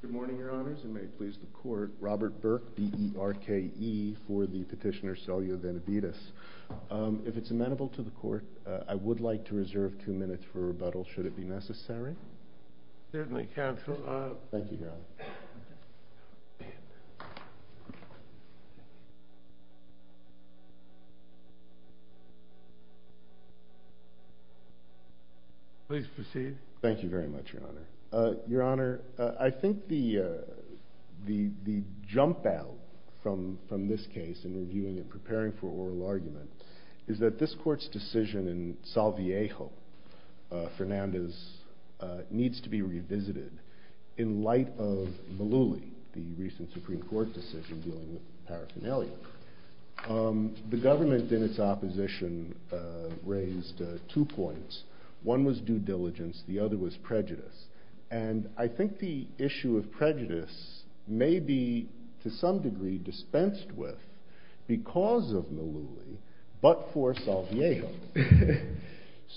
Good morning, Your Honors, and may it please the Court, Robert Burke, D.E.R.K.E. for the petitioner Celia Benavidez. If it's amenable to the Court, I would like to reserve two minutes for rebuttal should it be necessary. Certainly, Counselor. Thank you, Your Honor. Please proceed. Thank you very much, Your Honor. Your Honor, I think the jump out from this case in reviewing and preparing for oral argument is that this Court's decision in Maluli, the recent Supreme Court decision dealing with paraphernalia, the government in its opposition raised two points. One was due diligence. The other was prejudice. And I think the issue of prejudice may be, to some degree, dispensed with because of Maluli, but for Salviejo.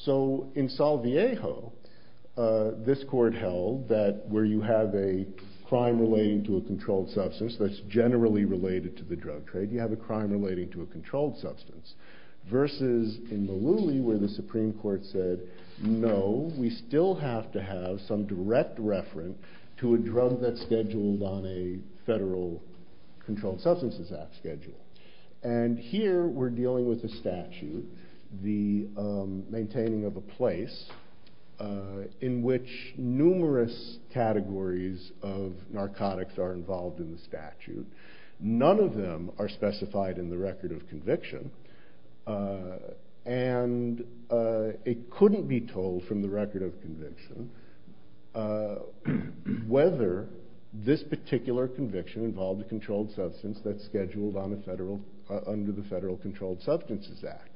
So in Salviejo, this Court held that where you have a crime relating to a controlled substance that's generally related to the drug trade, you have a crime relating to a controlled substance. Versus in Maluli, where the Supreme Court said, no, we still have to have some direct referent to a drug that's scheduled on a Federal Controlled Substances Act schedule. And here, we're dealing with a statute, the maintaining of a place in which numerous categories of narcotics are involved in the statute. None of them are specified in the record of conviction. And it couldn't be told from the record of a drug that's scheduled under the Federal Controlled Substances Act.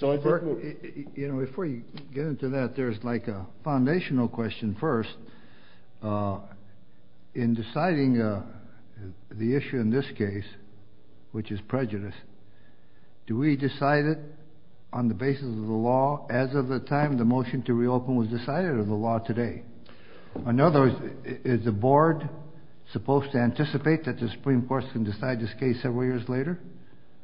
You know, before you get into that, there's like a foundational question first. In deciding the issue in this case, which is prejudice, do we decide it on the basis of the law as of the time the motion to reopen was decided or the law today? In other words, is the board supposed to anticipate that the Supreme Court can decide this case several years later?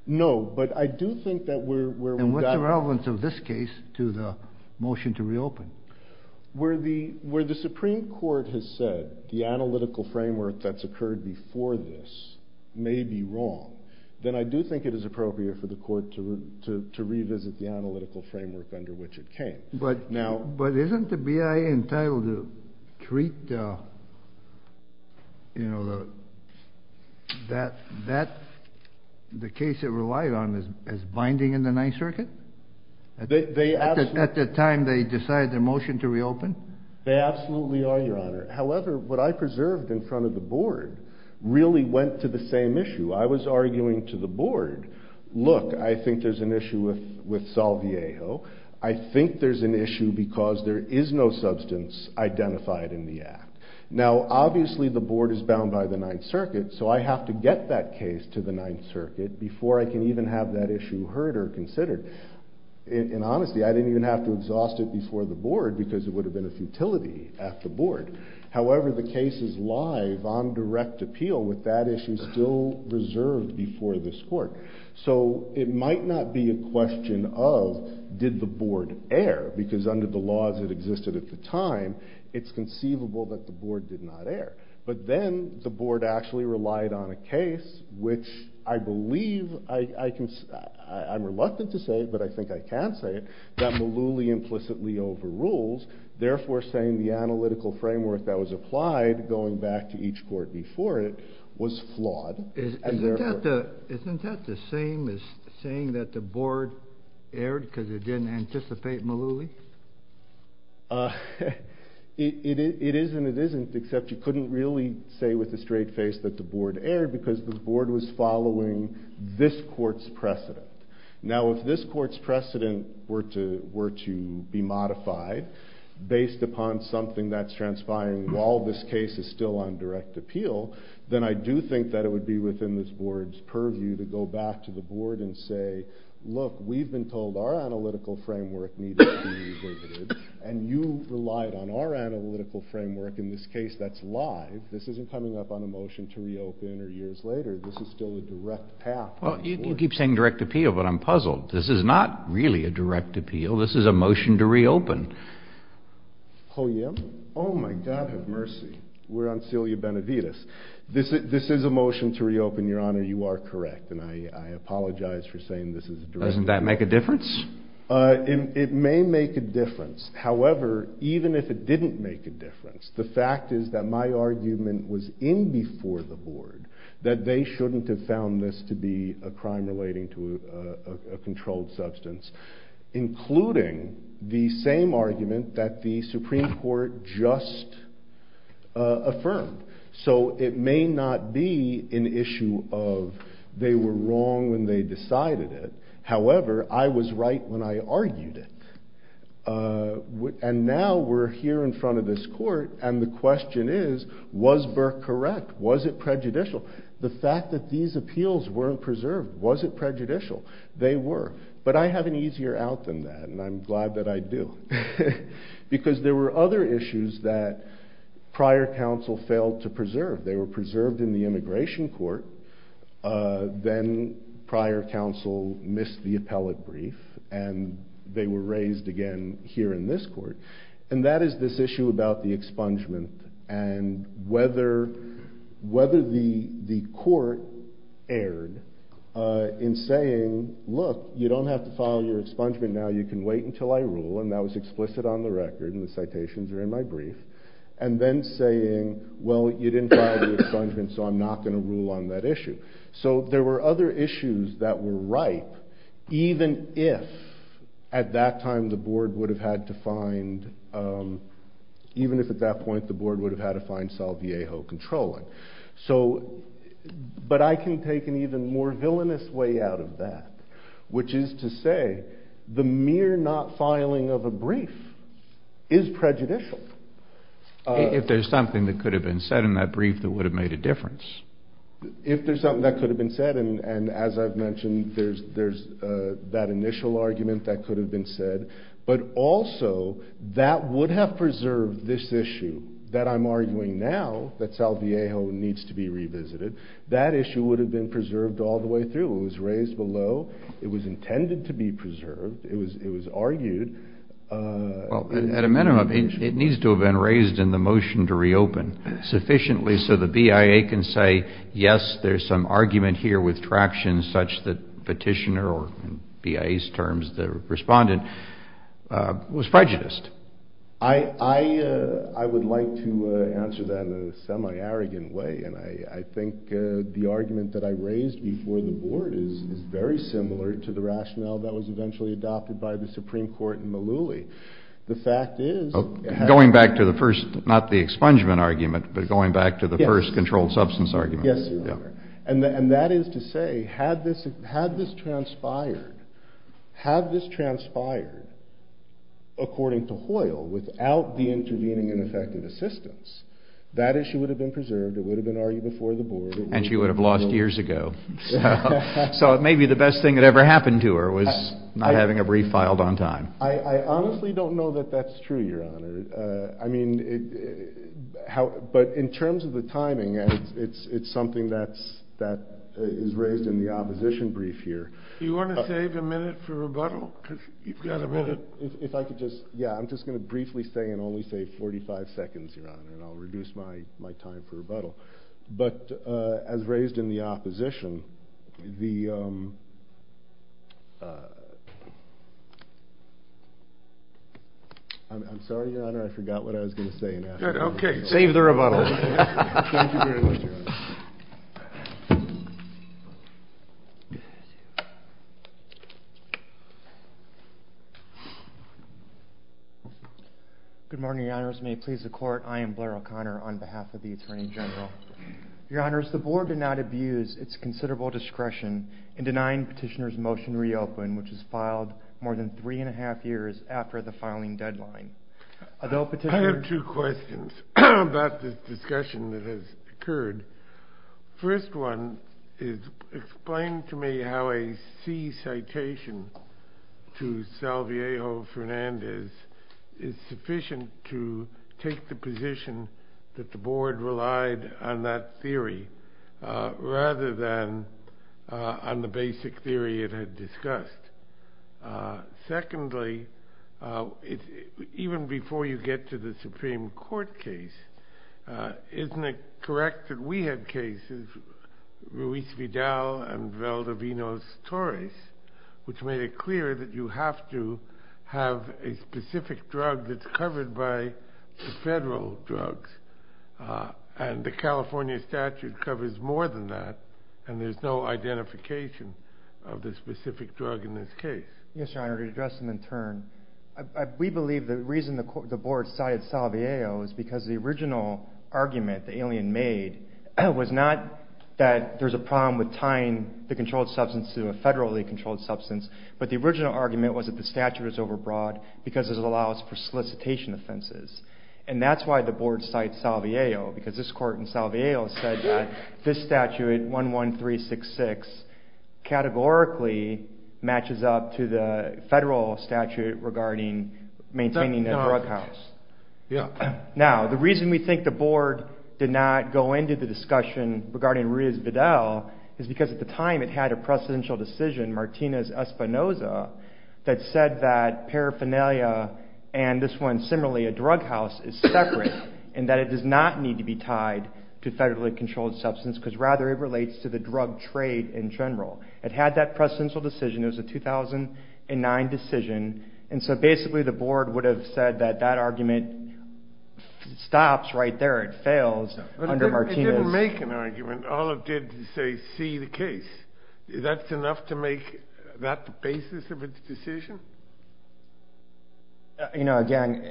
No, but I do think that we're... And what's the relevance of this case to the motion to reopen? Where the Supreme Court has said the analytical framework that's occurred before this may be wrong, then I do think it is appropriate for the court to revisit the analytical framework under which it came. But isn't the BIA entitled to treat the case it relied on as binding in the Ninth Circuit? They absolutely... At the time they decided the motion to reopen? They absolutely are, Your Honor. However, what I preserved in front of the board really went to the same issue. I was arguing to the board, look, I think there's an issue with Salviejo. I think there's an issue because there is no substance identified in the act. Now, obviously the board is bound by the Ninth Circuit, so I have to get that case to the Ninth Circuit before I can even have that issue heard or considered. And honestly, I didn't even have to exhaust it before the board because it would have been a futility at the board. However, the case is live on direct appeal with that issue still reserved before this court. So it might not be a question of did the board err because under the laws that existed at the time, it's conceivable that the board did not err. But then the board actually relied on a case, which I believe I can... I'm reluctant to say, but I think I can say it, that Malouly implicitly overrules, therefore saying the analytical framework that was applied going back to each court before it was flawed. Isn't that the same as saying that the board erred because it didn't anticipate Malouly? It is and it isn't, except you couldn't really say with a straight face that the board erred because the board was following this court's precedent. Now, if this court's precedent were to be modified based upon something that's transpiring while this case is still on direct appeal, then I do think that it would be within this board's purview to go back to the board and say, look, we've been told our analytical framework needed to be reverted and you relied on our analytical framework. In this case, that's live. This isn't coming up on a motion to reopen or years later. This is still a direct path. Well, you keep saying direct appeal, but I'm puzzled. This is not really a direct appeal. This is a motion to reopen. Oh, yeah? Oh, my God, have mercy. We're on cilia benevitis. This is a motion to reopen, Your Honor. You are correct. And I apologize for saying this is a direct appeal. Doesn't that make a difference? It may make a difference. However, even if it didn't make a difference, the fact is that my argument was in before the board that they shouldn't have found this to be a crime relating to a controlled substance, including the same argument that the Supreme Court just affirmed. So it may not be an issue of they were wrong when they decided it. However, I was right when I argued it. And now we're here in front of this court. And the question is, was Burke correct? Was it prejudicial? The fact that these appeals weren't preserved, was it prejudicial? They were. But I have an easier out than that, and I'm glad that I do. Because there were other issues that prior counsel failed to preserve. They were preserved in the immigration court. Then prior counsel missed the appellate brief, and they were raised again here in this court. And that is this whether the court erred in saying, look, you don't have to file your expungement now. You can wait until I rule. And that was explicit on the record, and the citations are in my brief. And then saying, well, you didn't file the expungement, so I'm not going to rule on that issue. So there were other issues that were ripe, even if at that time the board would have had to find, even if at that point the board would have had to find Salviejo controlling. So, but I can take an even more villainous way out of that, which is to say, the mere not filing of a brief is prejudicial. If there's something that could have been said in that brief that would have made a difference. If there's something that could have been said, and as I've mentioned, there's that initial argument that could have been said. But also, that would have preserved this issue that I'm arguing now, that Salviejo needs to be revisited. That issue would have been preserved all the way through. It was raised below. It was intended to be preserved. It was argued. Well, at a minimum, it needs to have been raised in the motion to reopen sufficiently so the BIA can say, yes, there's some argument here with traction such that petitioner, or in BIA's terms, the was prejudiced. I would like to answer that in a semi-arrogant way. And I think the argument that I raised before the board is very similar to the rationale that was eventually adopted by the Supreme Court in Malouli. The fact is... Going back to the first, not the expungement argument, but going back to the first controlled substance argument. Yes, Your Honor. And that is to say, had this transpired, had this transpired according to Hoyle without the intervening and effective assistance, that issue would have been preserved. It would have been argued before the board. And she would have lost years ago. So it may be the best thing that ever happened to her was not having a brief filed on time. I honestly don't know that that's true, Your Honor. I mean, but in terms of the timing, it's something that's that is raised in the opposition brief here. You want to save a minute for rebuttal? If I could just, yeah, I'm just going to briefly say and only say 45 seconds, Your Honor, and I'll I'm sorry, Your Honor, I forgot what I was going to say. Okay, save the rebuttal. Good morning, Your Honors. May it please the court, I am Blair O'Connor on behalf of the Board of Trustees, and I would like to request that the board not abuse its considerable discretion in denying Petitioner's motion to reopen, which was filed more than three and a half years after the filing deadline. I have two questions about this discussion that has occurred. First one is, explain to me how a C citation to Salviejo Fernandez is sufficient to take the position that the board relied on that theory rather than on the basic theory it had discussed. Secondly, even before you get to the Supreme Court case, isn't it correct that we had cases, Ruiz Vidal and Valdivinos Torres, which made it clear that you have to have a specific drug that's covered by the federal drugs, and the California statute covers more than that, and there's no identification of the specific drug in this case? Yes, Your Honor, to address them in turn, we believe the reason the board cited Salviejo is because the original argument the alien made was not that there's a problem with tying the controlled substance to a federally controlled substance, but the original argument was that the statute was overbroad because it allows for solicitation offenses. And that's why the board cited Salviejo, because this court in Salviejo said that this statute, 11366, categorically matches up to the federal statute regarding maintaining a drug house. Now, the reason we think the board did not go into the discussion regarding Ruiz Vidal is because at the time it had a precedential decision, Martinez-Espinoza, that said that it was not tied to federally controlled substance, because rather it relates to the drug trade in general. It had that precedential decision, it was a 2009 decision, and so basically the board would have said that that argument stops right there, it fails under Martinez- But it didn't make an argument, all it did was say, see the case. That's enough to make that the basis of its decision? You know, again,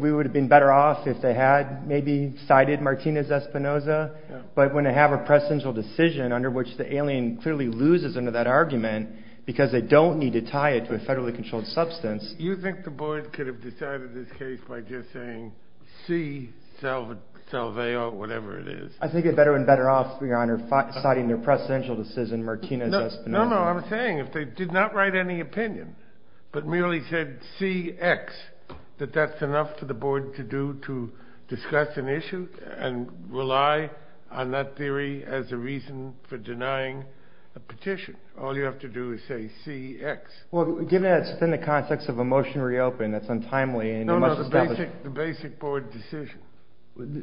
we would have been better off if they had maybe cited Martinez-Espinoza, but when they have a precedential decision under which the alien clearly loses under that argument because they don't need to tie it to a federally controlled substance- You think the board could have decided this case by just saying, see Salviejo, whatever it is? I think they'd be better and better off, Your Honor, citing their precedential decision, Martinez-Espinoza. No, no, I'm saying, if they did not write any opinion, but merely said, see X, that that's enough for the board to do to discuss an issue and rely on that theory as a reason for denying a petition. All you have to do is say, see X. Well, given that it's within the context of a motion to reopen, that's untimely- No, no, the basic board decision.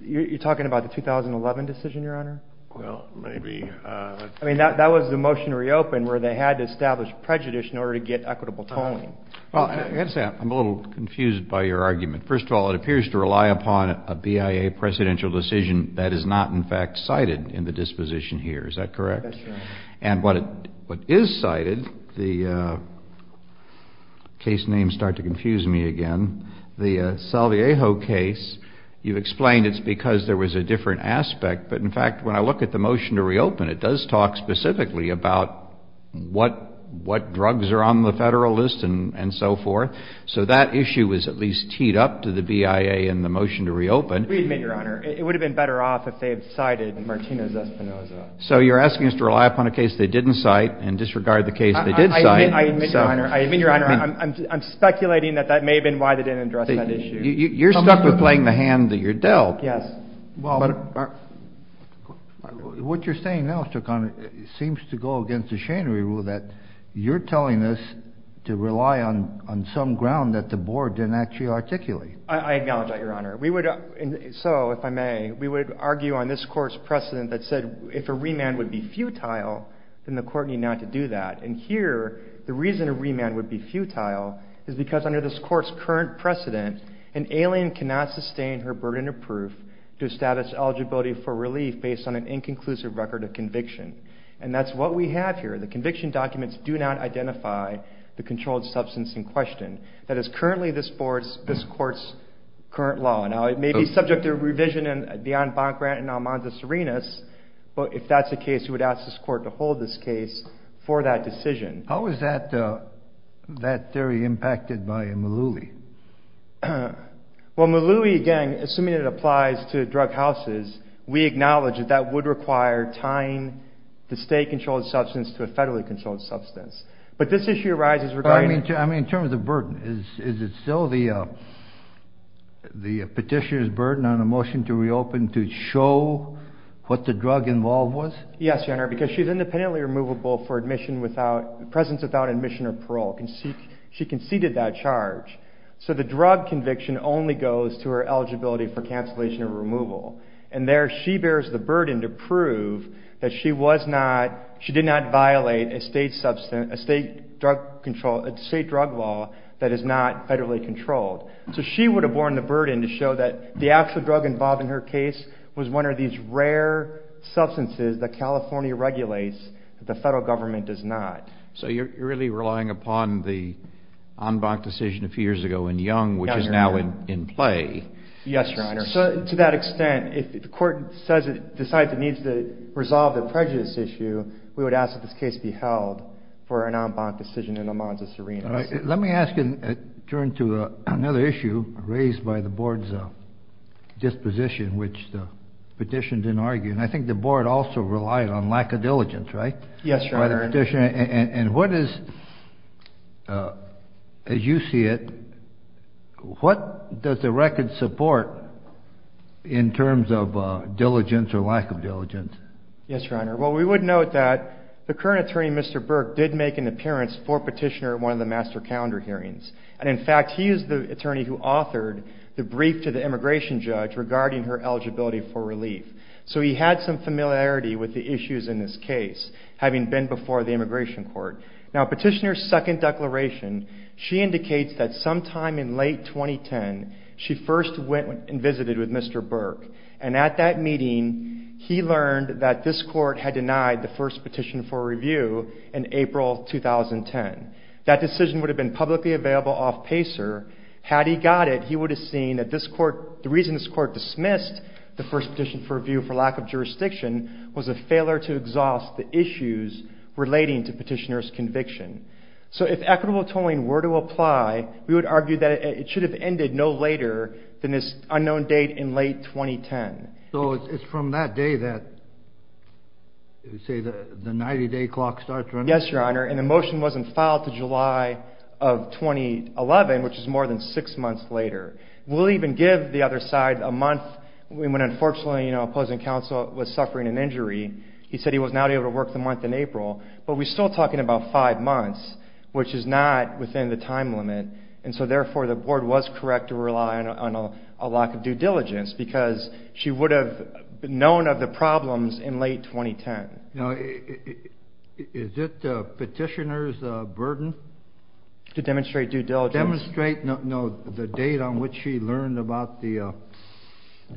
You're talking about the 2011 decision, Your Honor? Well, maybe- I mean, that was the motion to reopen where they had to establish prejudice in order to get equitable tolling. Well, I have to say, I'm a little confused by your argument. First of all, it appears to rely upon a BIA precedential decision that is not, in fact, cited in the disposition here. Is that correct? That's right. And what is cited, the case names start to confuse me again. The Salviejo case, you've explained it's because there was a different aspect. But in fact, when I look at the motion to reopen, it does talk specifically about what drugs are on the Federal list and so forth. So that issue is at least teed up to the BIA in the motion to reopen. We admit, Your Honor, it would have been better off if they had cited Martinez-Espinosa. So you're asking us to rely upon a case they didn't cite and disregard the case they did cite? I admit, Your Honor. I admit, Your Honor. I'm speculating that that may have been why they didn't address that issue. You're stuck with playing the hand that you're dealt. Yes. What you're saying now, Mr. Conner, seems to go against the Schanery rule that you're telling us to rely on some ground that the Board didn't actually articulate. I acknowledge that, Your Honor. We would argue on this Court's precedent that said if a remand would be futile, then the Court need not to do that. And here, the reason a remand would be futile is because under this Court's current precedent, an alien cannot sustain her burden of proof to establish eligibility for relief based on an inconclusive record of conviction. And that's what we have here. The conviction documents do not identify the controlled substance in question. That is currently this Court's current law. Now, it may be subject to revision beyond Bonn-Grant and Almanza-Serenis, but if that's the case, we would ask this Court to hold this case for that decision. How is that theory impacted by Malouie? Well, Malouie, again, assuming it applies to drug houses, we acknowledge that that would require tying the state-controlled substance to a federally controlled substance. But this issue arises regarding... In terms of burden, is it still the petitioner's burden on a motion to reopen to show what the drug involved was? Yes, Your Honor, because she's independently removable for presence without admission or parole. She conceded that charge. So the drug conviction only goes to her eligibility for cancellation or removal. And there she bears the burden to prove that she did not violate a state drug law that is not federally controlled. So she would have borne the burden to show that the actual drug involved in her case was one of these rare substances that California regulates that the federal government does not. So you're really relying upon the Anbach decision a few years ago in Young, which is now in play. Yes, Your Honor. So to that extent, if the court says it decides it needs to resolve the prejudice issue, we would ask that this case be held for an Anbach decision in Almanza-Serena. Let me ask and turn to another issue raised by the board's disposition, which the petition didn't argue. And I think the board also relied on lack of diligence, right? Yes, Your Honor. And what is, as you see it, what does the record support in terms of diligence or lack of diligence? Yes, Your Honor. Well, we would note that the current attorney, Mr. Burke, did make an appearance for petitioner at one of the master calendar hearings. And in fact, he is the attorney who authored the brief to the immigration judge regarding her eligibility for relief. So he had some familiarity with the issues in this case, having been before the immigration court. Now, petitioner's second declaration, she indicates that sometime in late 2010, she first went and visited with Mr. Burke. And at that meeting, he learned that this court had denied the first petition for review in April 2010. That decision would have been publicly available off PACER. Had he got it, he would have seen that the reason this court dismissed the first petition for review for lack of jurisdiction was a failure to exhaust the issues relating to petitioner's conviction. So if equitable tolling were to apply, we would argue that it should have ended no later than this unknown date in late 2010. So it's from that day that, say, the 90-day clock starts running? Yes, Your Honor. And the motion wasn't filed to July of 2011, which is more than six months later. We'll even give the other side a month when unfortunately, you know, opposing counsel was suffering an injury. He said he was not able to work the month in April. But we're still talking about five months, which is not within the time limit. And so therefore, the board was correct to rely on a lack of due diligence because she would have known of the problems in late 2010. Now, is it the petitioner's burden? To demonstrate due diligence? Demonstrate, no, the date on which she learned about the, you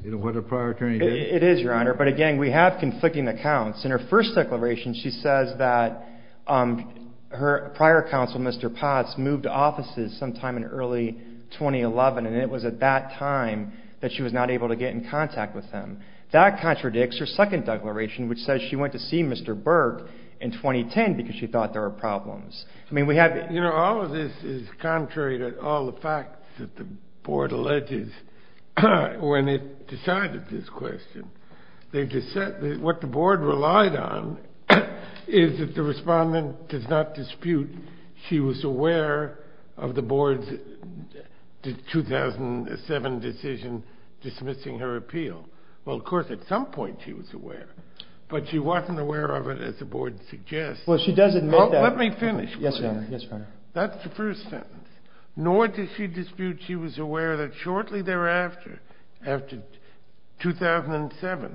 know, what a prior attorney did? It is, Your Honor. But again, we have conflicting accounts. In her first declaration, she says that her prior counsel, Mr. Potts, moved offices sometime in early 2011. And it was at that time that she was not able to get in contact with him. That contradicts her second declaration, which says she went to see Mr. Berg in 2010 because she thought there were problems. I mean, we have... You know, all of this is contrary to all the facts that the board alleges when it decided this question. They just said that what the board relied on is that the respondent does not dispute she was aware of the board's 2007 decision dismissing her appeal. Well, of course, at some point she was aware, but she wasn't aware of it as the board suggests. Well, she does admit that... Let me finish. Yes, Your Honor. Yes, Your Honor. That's the first sentence. Nor did she dispute she was aware that shortly thereafter, after 2007,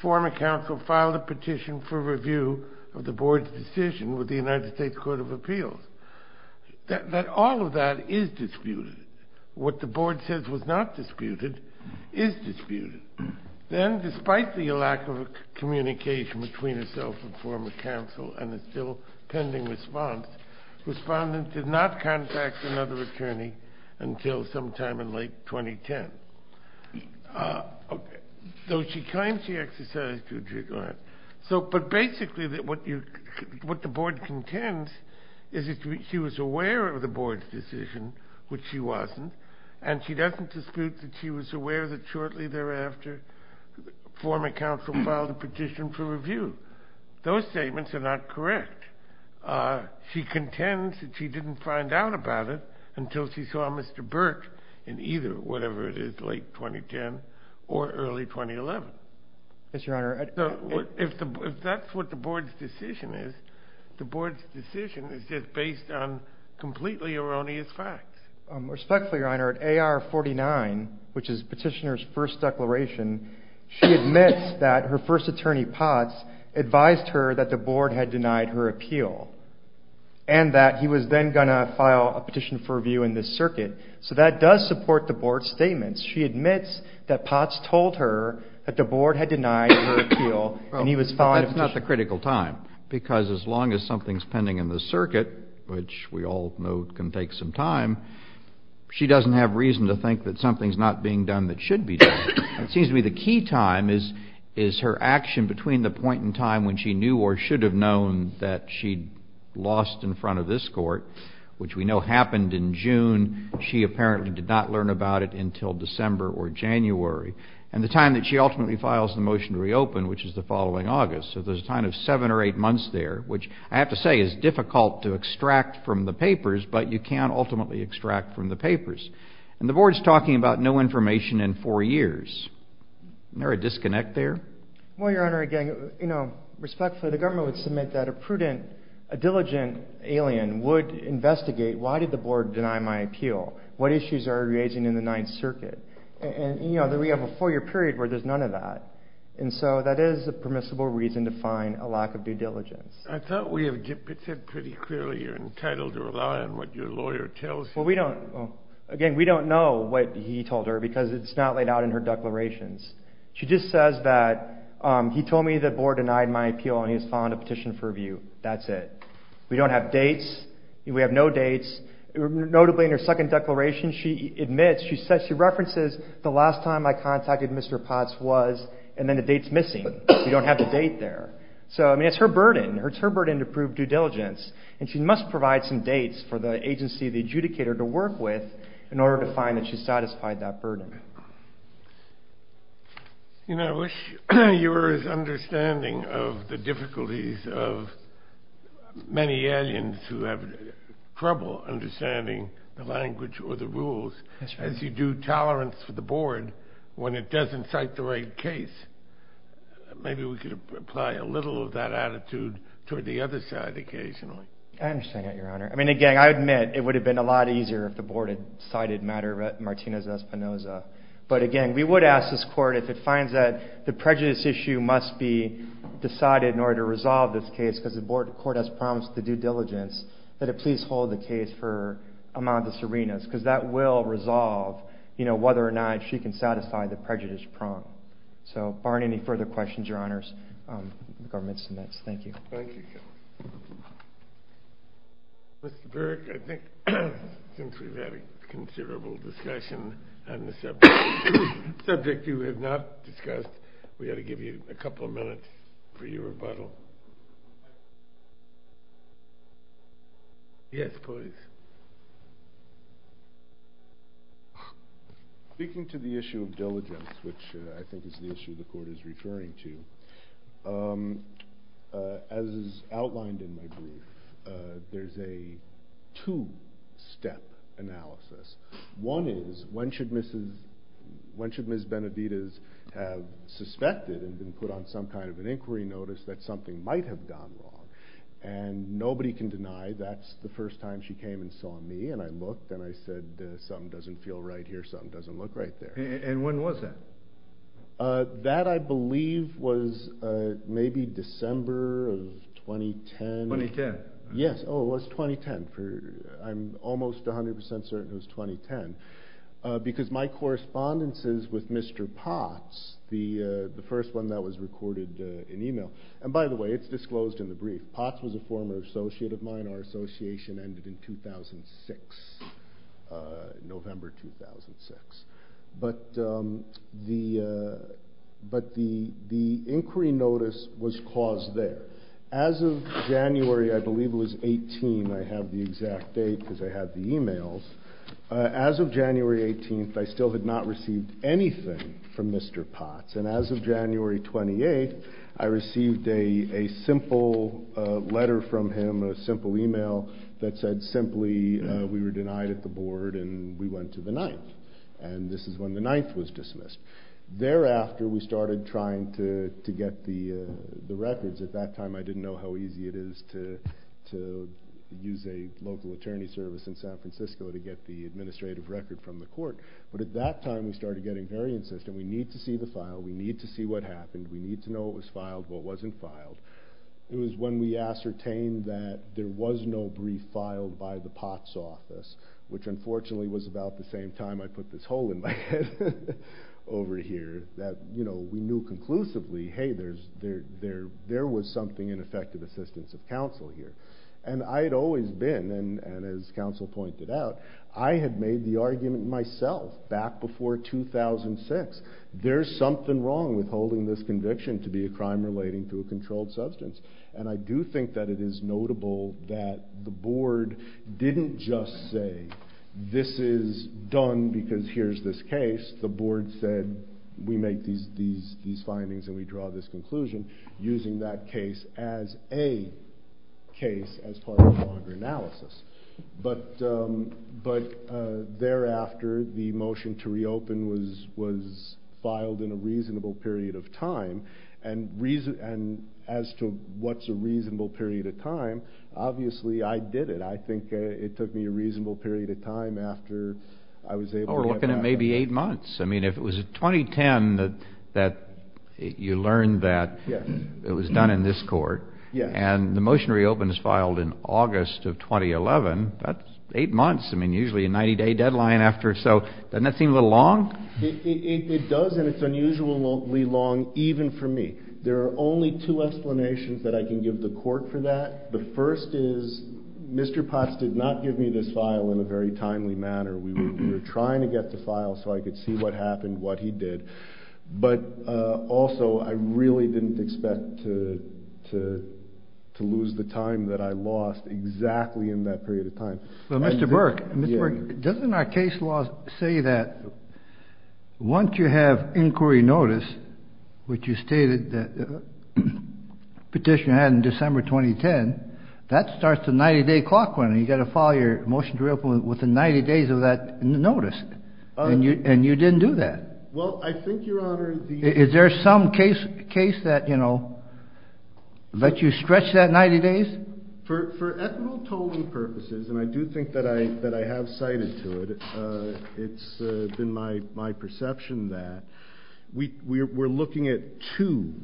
former counsel filed a petition for review of the board's decision with the United States Court of Appeals. That all of that is disputed. What the board says was not disputed is disputed. Then, despite the lack of communication between herself and former counsel and the still pending response, respondent did not contact another attorney until sometime in late 2010. Though she claims she exercised due regard. But basically, what the board contends is that she was aware of the board's decision, which she wasn't, and she doesn't dispute that she was aware that shortly thereafter, former counsel filed a petition for review. Those statements are not correct. She contends that she didn't find out about it until she saw Mr. Burke in either whatever it is, late 2010 or early 2011. Yes, Your Honor. If that's what the board's decision is, the board's decision is just based on completely erroneous facts. Respectfully, Your Honor, at AR 49, which is petitioner's first declaration, she admits that her first attorney, Potts, advised her that the board had denied her appeal and that he was then going to file a petition for review in this circuit. So that does support the board's statements. She admits that Potts told her that the board had denied her appeal and he was filing a petition. Well, that's not the critical time, because as long as something's pending in this circuit, which we all know can take some time, she doesn't have reason to think that something's not being done that should be done. It seems to me the key time is her action between the point in time when she knew or should have known that she'd lost in front of this court, which we know happened in June, she apparently did not learn about it until December or January, and the time that she ultimately files the motion to reopen, which is the following August. So there's a time of seven or eight months there, which I have to say is difficult to extract from the papers, but you can ultimately extract from the papers. And the board's talking about no information in four years. Isn't there a disconnect there? Well, Your Honor, again, you know, respectfully, the government would submit that a prudent, a diligent alien would investigate why did the board deny my appeal, what issues are arising in the Ninth Circuit. And, you know, we have a four-year period where there's none of that. And so that is a permissible reason to find a lack of due diligence. I thought we have said pretty clearly you're entitled to rely on what your lawyer tells you. Well, we don't, again, we don't know what he told her because it's not laid out in her declarations. She just says that he told me the board denied my appeal and he has filed a petition for review. That's it. We don't have dates. We have no dates. Notably, in her second declaration, she admits, she says, she references the last time I contacted Mr. Potts was, and then the date's missing. We don't have the date there. So, I mean, it's her burden. It's her burden to prove due diligence. And she must provide some dates for the agency, the adjudicator to work with in order to find that she satisfied that burden. You know, I wish you were as understanding of the difficulties of many aliens who have trouble understanding the language or the rules as you do tolerance for the board when it doesn't cite the right case. Maybe we could apply a little of that attitude toward the other side occasionally. I understand that, Your Honor. I mean, again, I admit it would have been a lot easier if the board had cited matter of Martinez-Espinosa. But again, we would ask this court if it finds that the prejudice issue must be decided in order to resolve this case because the board, the court has promised the due diligence that it please hold the case for Amanda Serena because that will resolve, you know, whether or not she can satisfy the prejudice prompt. So, barring any further questions, Your Honors, the government submits. Thank you. Thank you. Mr. Burke, I think since we've had a considerable discussion on the subject you have not discussed, we ought to give you a couple of minutes for your rebuttal. Yes, please. Speaking to the issue of diligence, which I think is the issue the court is referring to, as outlined in my brief, there's a two-step analysis. One is, when should Mrs.—when should Ms. Benedita have suspected and been put on some kind of an inquiry notice that something might have gone wrong? And nobody can deny that's the first time she came and saw me and I looked and I said, something doesn't feel right here, something doesn't look right there. And when was that? That, I believe, was maybe December of 2010. 2010. Yes. Oh, it was 2010. I'm almost 100% certain it was 2010 because my correspondences with Mr. Potts, the first one that was recorded in email—and by the way, it's disclosed in the brief. Mr. Potts was a former associate of mine, our association ended in 2006, November 2006. But the inquiry notice was caused there. As of January, I believe it was 18, I have the exact date because I have the emails. As of January 18th, I still had not received anything from Mr. Potts. And as of January 28th, I received a simple letter from him, a simple email that said simply, we were denied at the board and we went to the 9th. And this is when the 9th was dismissed. Thereafter, we started trying to get the records. At that time, I didn't know how easy it is to use a local attorney service in San Francisco to get the administrative record from the court. But at that time, we started getting very insistent, we need to see the file, we need to see what happened, we need to know what was filed, what wasn't filed. It was when we ascertained that there was no brief filed by the Potts office, which unfortunately was about the same time I put this hole in my head over here, that we knew conclusively, hey, there was something in effective assistance of counsel here. And I had always been, and as counsel pointed out, I had made the argument myself back before 2006. There's something wrong with holding this conviction to be a crime relating to a controlled substance. And I do think that it is notable that the board didn't just say, this is done because here's this case. The board said, we make these findings and we draw this conclusion using that case as a case as part of a longer analysis. But thereafter, the motion to reopen was filed in a reasonable period of time. And as to what's a reasonable period of time, obviously, I did it. I think it took me a reasonable period of time after I was able to get past that. We're looking at maybe eight months. I mean, if it was 2010 that you learned that it was done in this court, and the motion to reopen was filed in August of 2011, that's eight months. I mean, usually a 90-day deadline after. So doesn't that seem a little long? It does, and it's unusually long, even for me. There are only two explanations that I can give the court for that. The first is, Mr. Potts did not give me this file in a very timely manner. We were trying to get the file so I could see what happened, what he did. But also, I really didn't expect to lose the time that I lost exactly in that period of time. But Mr. Burke, Mr. Burke, doesn't our case law say that once you have inquiry notice, which you stated that petitioner had in December 2010, that starts the 90-day clock running. You've got to file your motion to reopen within 90 days of that notice, and you didn't do that. Well, I think, Your Honor, the— Is there some case that, you know, let you stretch that 90 days? For equitable tolling purposes, and I do think that I have cited to it, it's been my perception that we're looking at two,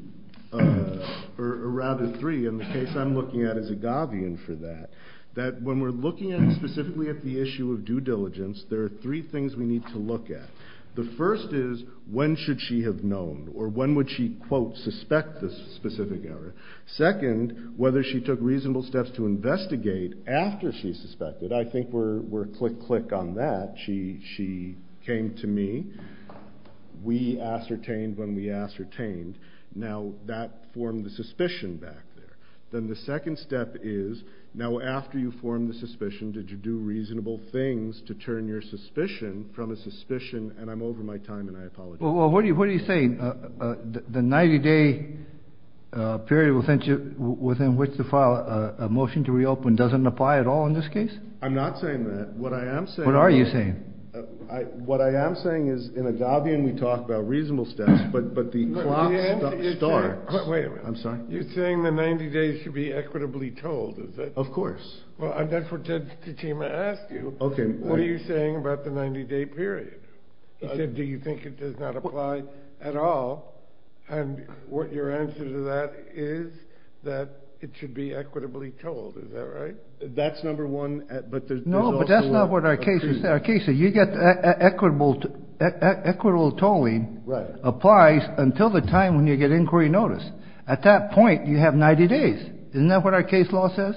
or rather three, and the case I'm looking at is Agavian for that. That when we're looking at specifically at the issue of due diligence, there are three things we need to look at. The first is, when should she have known, or when would she, quote, suspect this specific error? Second, whether she took reasonable steps to investigate after she suspected. I think we're click, click on that. She came to me. We ascertained when we ascertained. Now, that formed the suspicion back there. Then the second step is, now after you formed the suspicion, did you do reasonable things to turn your suspicion from a suspicion? And I'm over my time, and I apologize. Well, what are you saying? The 90-day period within which to file a motion to reopen doesn't apply at all in this case? I'm not saying that. What I am saying— What are you saying? What I am saying is, in Agavian, we talk about reasonable steps, but the clock starts— Wait a minute. I'm sorry? You're saying the 90 days should be equitably told, is that— Of course. Well, that's what Ted Tatema asked you. Okay. What are you saying about the 90-day period? He said, do you think it does not apply at all? And what your answer to that is, that it should be equitably told. Is that right? That's number one, but there's also— You get equitable tolling applies until the time when you get inquiry notice. At that point, you have 90 days. Isn't that what our case law says?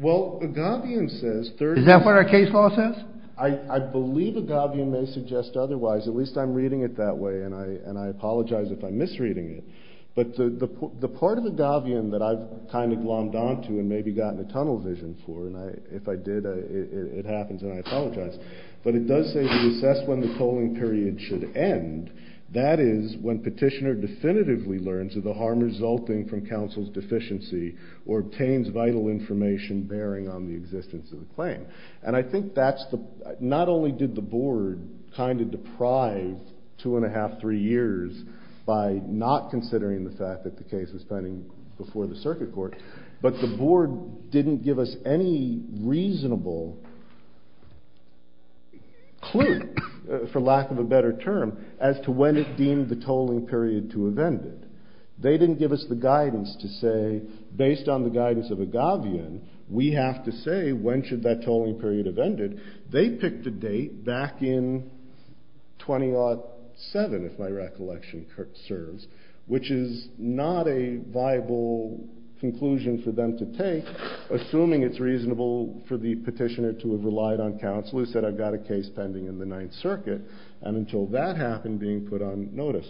Well, Agavian says— Is that what our case law says? I believe Agavian may suggest otherwise. At least I'm reading it that way, and I apologize if I'm misreading it. But the part of Agavian that I've kind of glommed onto and maybe gotten a tunnel vision for, and if I did, it happens, and I apologize. But it does say to assess when the tolling period should end. That is when petitioner definitively learns of the harm resulting from counsel's deficiency or obtains vital information bearing on the existence of the claim. And I think that's the— Not only did the board kind of deprive two-and-a-half, three years by not considering the fact that the case was pending before the circuit court, but the board didn't give us any reasonable clue, for lack of a better term, as to when it deemed the tolling period to have ended. They didn't give us the guidance to say, based on the guidance of Agavian, we have to say when should that tolling period have ended. They picked a date back in 2007, if my recollection serves, which is not a viable conclusion for them to take, assuming it's reasonable for the petitioner to have relied on counsel, who said, I've got a case pending in the Ninth Circuit, and until that happened, being put on notice.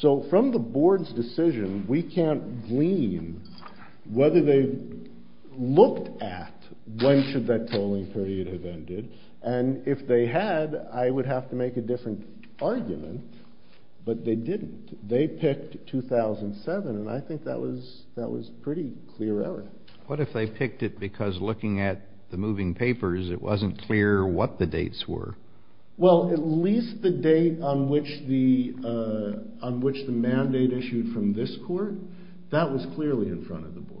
So from the board's decision, we can't glean whether they looked at when should that tolling period have ended. And if they had, I would have to make a different argument. But they didn't. They picked 2007, and I think that was a pretty clear error. What if they picked it because looking at the moving papers, it wasn't clear what the dates were? Well, at least the date on which the mandate issued from this court, that was clearly in front of the board.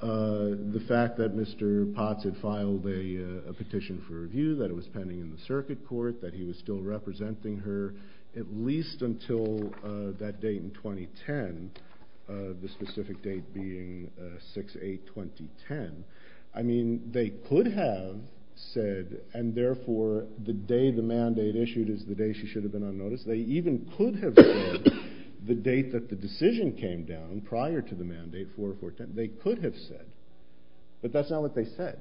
The fact that Mr. Potts had filed a petition for review, that it was pending in the circuit court, that he was still representing her, at least until that date in 2010, the specific date being 6-8-2010, I mean, they could have said, and therefore, the day the mandate issued is the day she should have been on notice. They even could have said the date that the decision came down, prior to the mandate, 4-4-10, they could have said. But that's not what they said.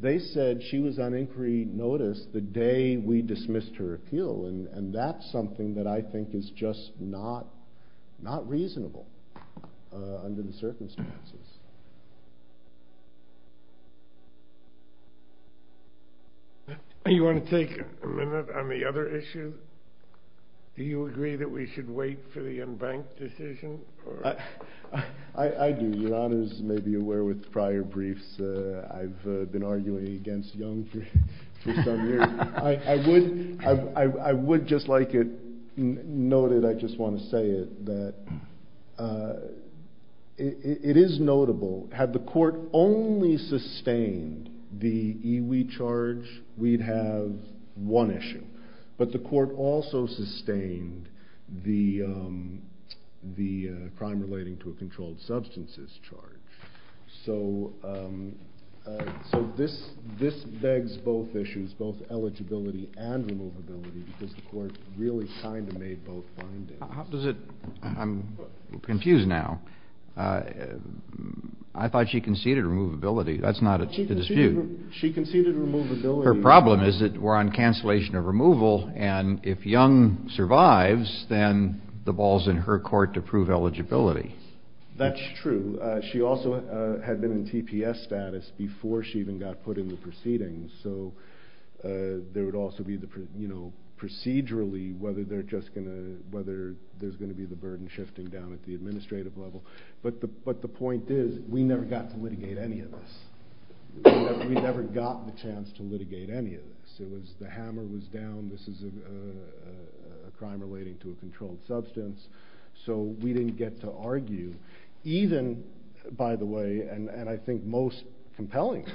They said she was on inquiry notice the day we dismissed her appeal, and that's something that I think is just not reasonable under the circumstances. You want to take a minute on the other issue? Do you agree that we should wait for the embanked decision? I do. Your honors may be aware with prior briefs, I've been arguing against Young for some years. I would just like it noted, I just want to say it, that it is notable, had the court only sustained the EWI charge, we'd have one issue. But the court also sustained the crime relating to a controlled substances charge. So this begs both issues, both eligibility and removability, because the court really kind of made both findings. How does it, I'm confused now. I thought she conceded removability, that's not the dispute. She conceded removability. Her problem is that we're on cancellation of removal, and if Young survives, then the ball's in her court to prove eligibility. That's true. She also had been in TPS status before she even got put in the proceedings. So there would also be the, you know, procedurally, whether they're just going to, whether there's going to be the burden shifting down at the administrative level. But the point is, we never got to litigate any of this. We never got the chance to litigate any of this. It was, the hammer was down. This is a crime relating to a controlled substance. So we didn't get to argue, even, by the way, and I think most compelling,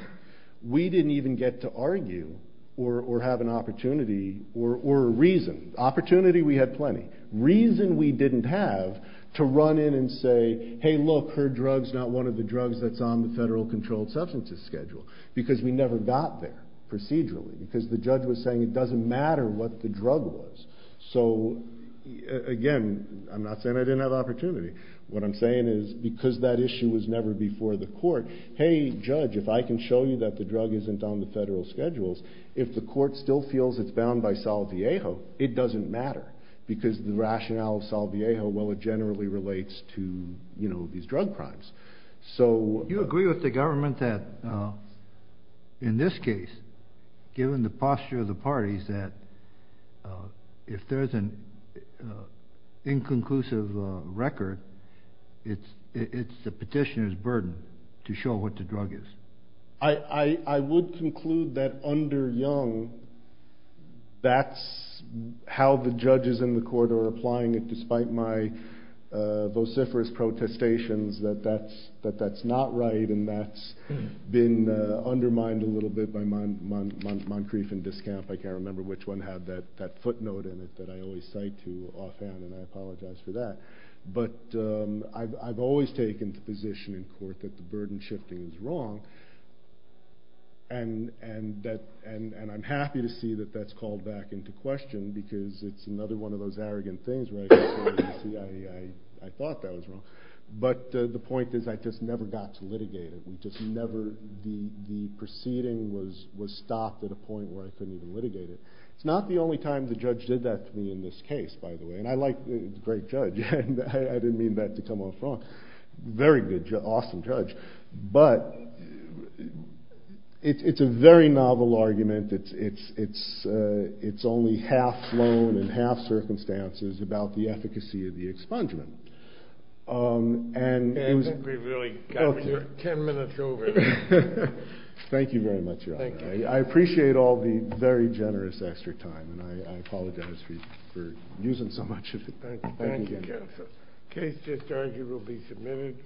we didn't even get to argue or have an opportunity or a reason. Opportunity, we had plenty. Reason, we didn't have to run in and say, hey, look, her drug's not one of the drugs that's on the federal controlled substances schedule, because we never got there procedurally, because the judge was saying it doesn't matter what the drug was. So again, I'm not saying I didn't have opportunity. What I'm saying is, because that issue was never before the court, hey, judge, if I can show you that the drug isn't on the federal schedules, if the court still feels it's bound by Salviejo, it doesn't matter, because the rationale of Salviejo, well, it generally relates to, you know, these drug crimes. So... You agree with the government that, in this case, given the posture of the parties, that if there's an inconclusive record, it's the petitioner's burden to show what the drug is. I would conclude that under Young, that's how the judges in the court are applying it, despite my vociferous protestations, that that's not right, and that's been undermined a little bit by Moncrief and Discamp. I can't remember which one had that footnote in it that I always cite to offhand, and I apologize for that. But I've always taken the position in court that the burden shifting is wrong. And I'm happy to see that that's called back into question, because it's another one of those arrogant things where I can say, you see, I thought that was wrong. But the point is, I just never got to litigate it. We just never... The proceeding was stopped at a point where I couldn't even litigate it. It's not the only time the judge did that to me in this case, by the way. And I like... Great judge. I didn't mean that to come off wrong. Very good, awesome judge. But it's a very novel argument. It's only half flown and half circumstances about the efficacy of the expungement. And we've really got 10 minutes over. Thank you very much, Your Honor. I appreciate all the very generous extra time, and I apologize for using so much of it. Thank you, counsel. Case just argued will be submitted.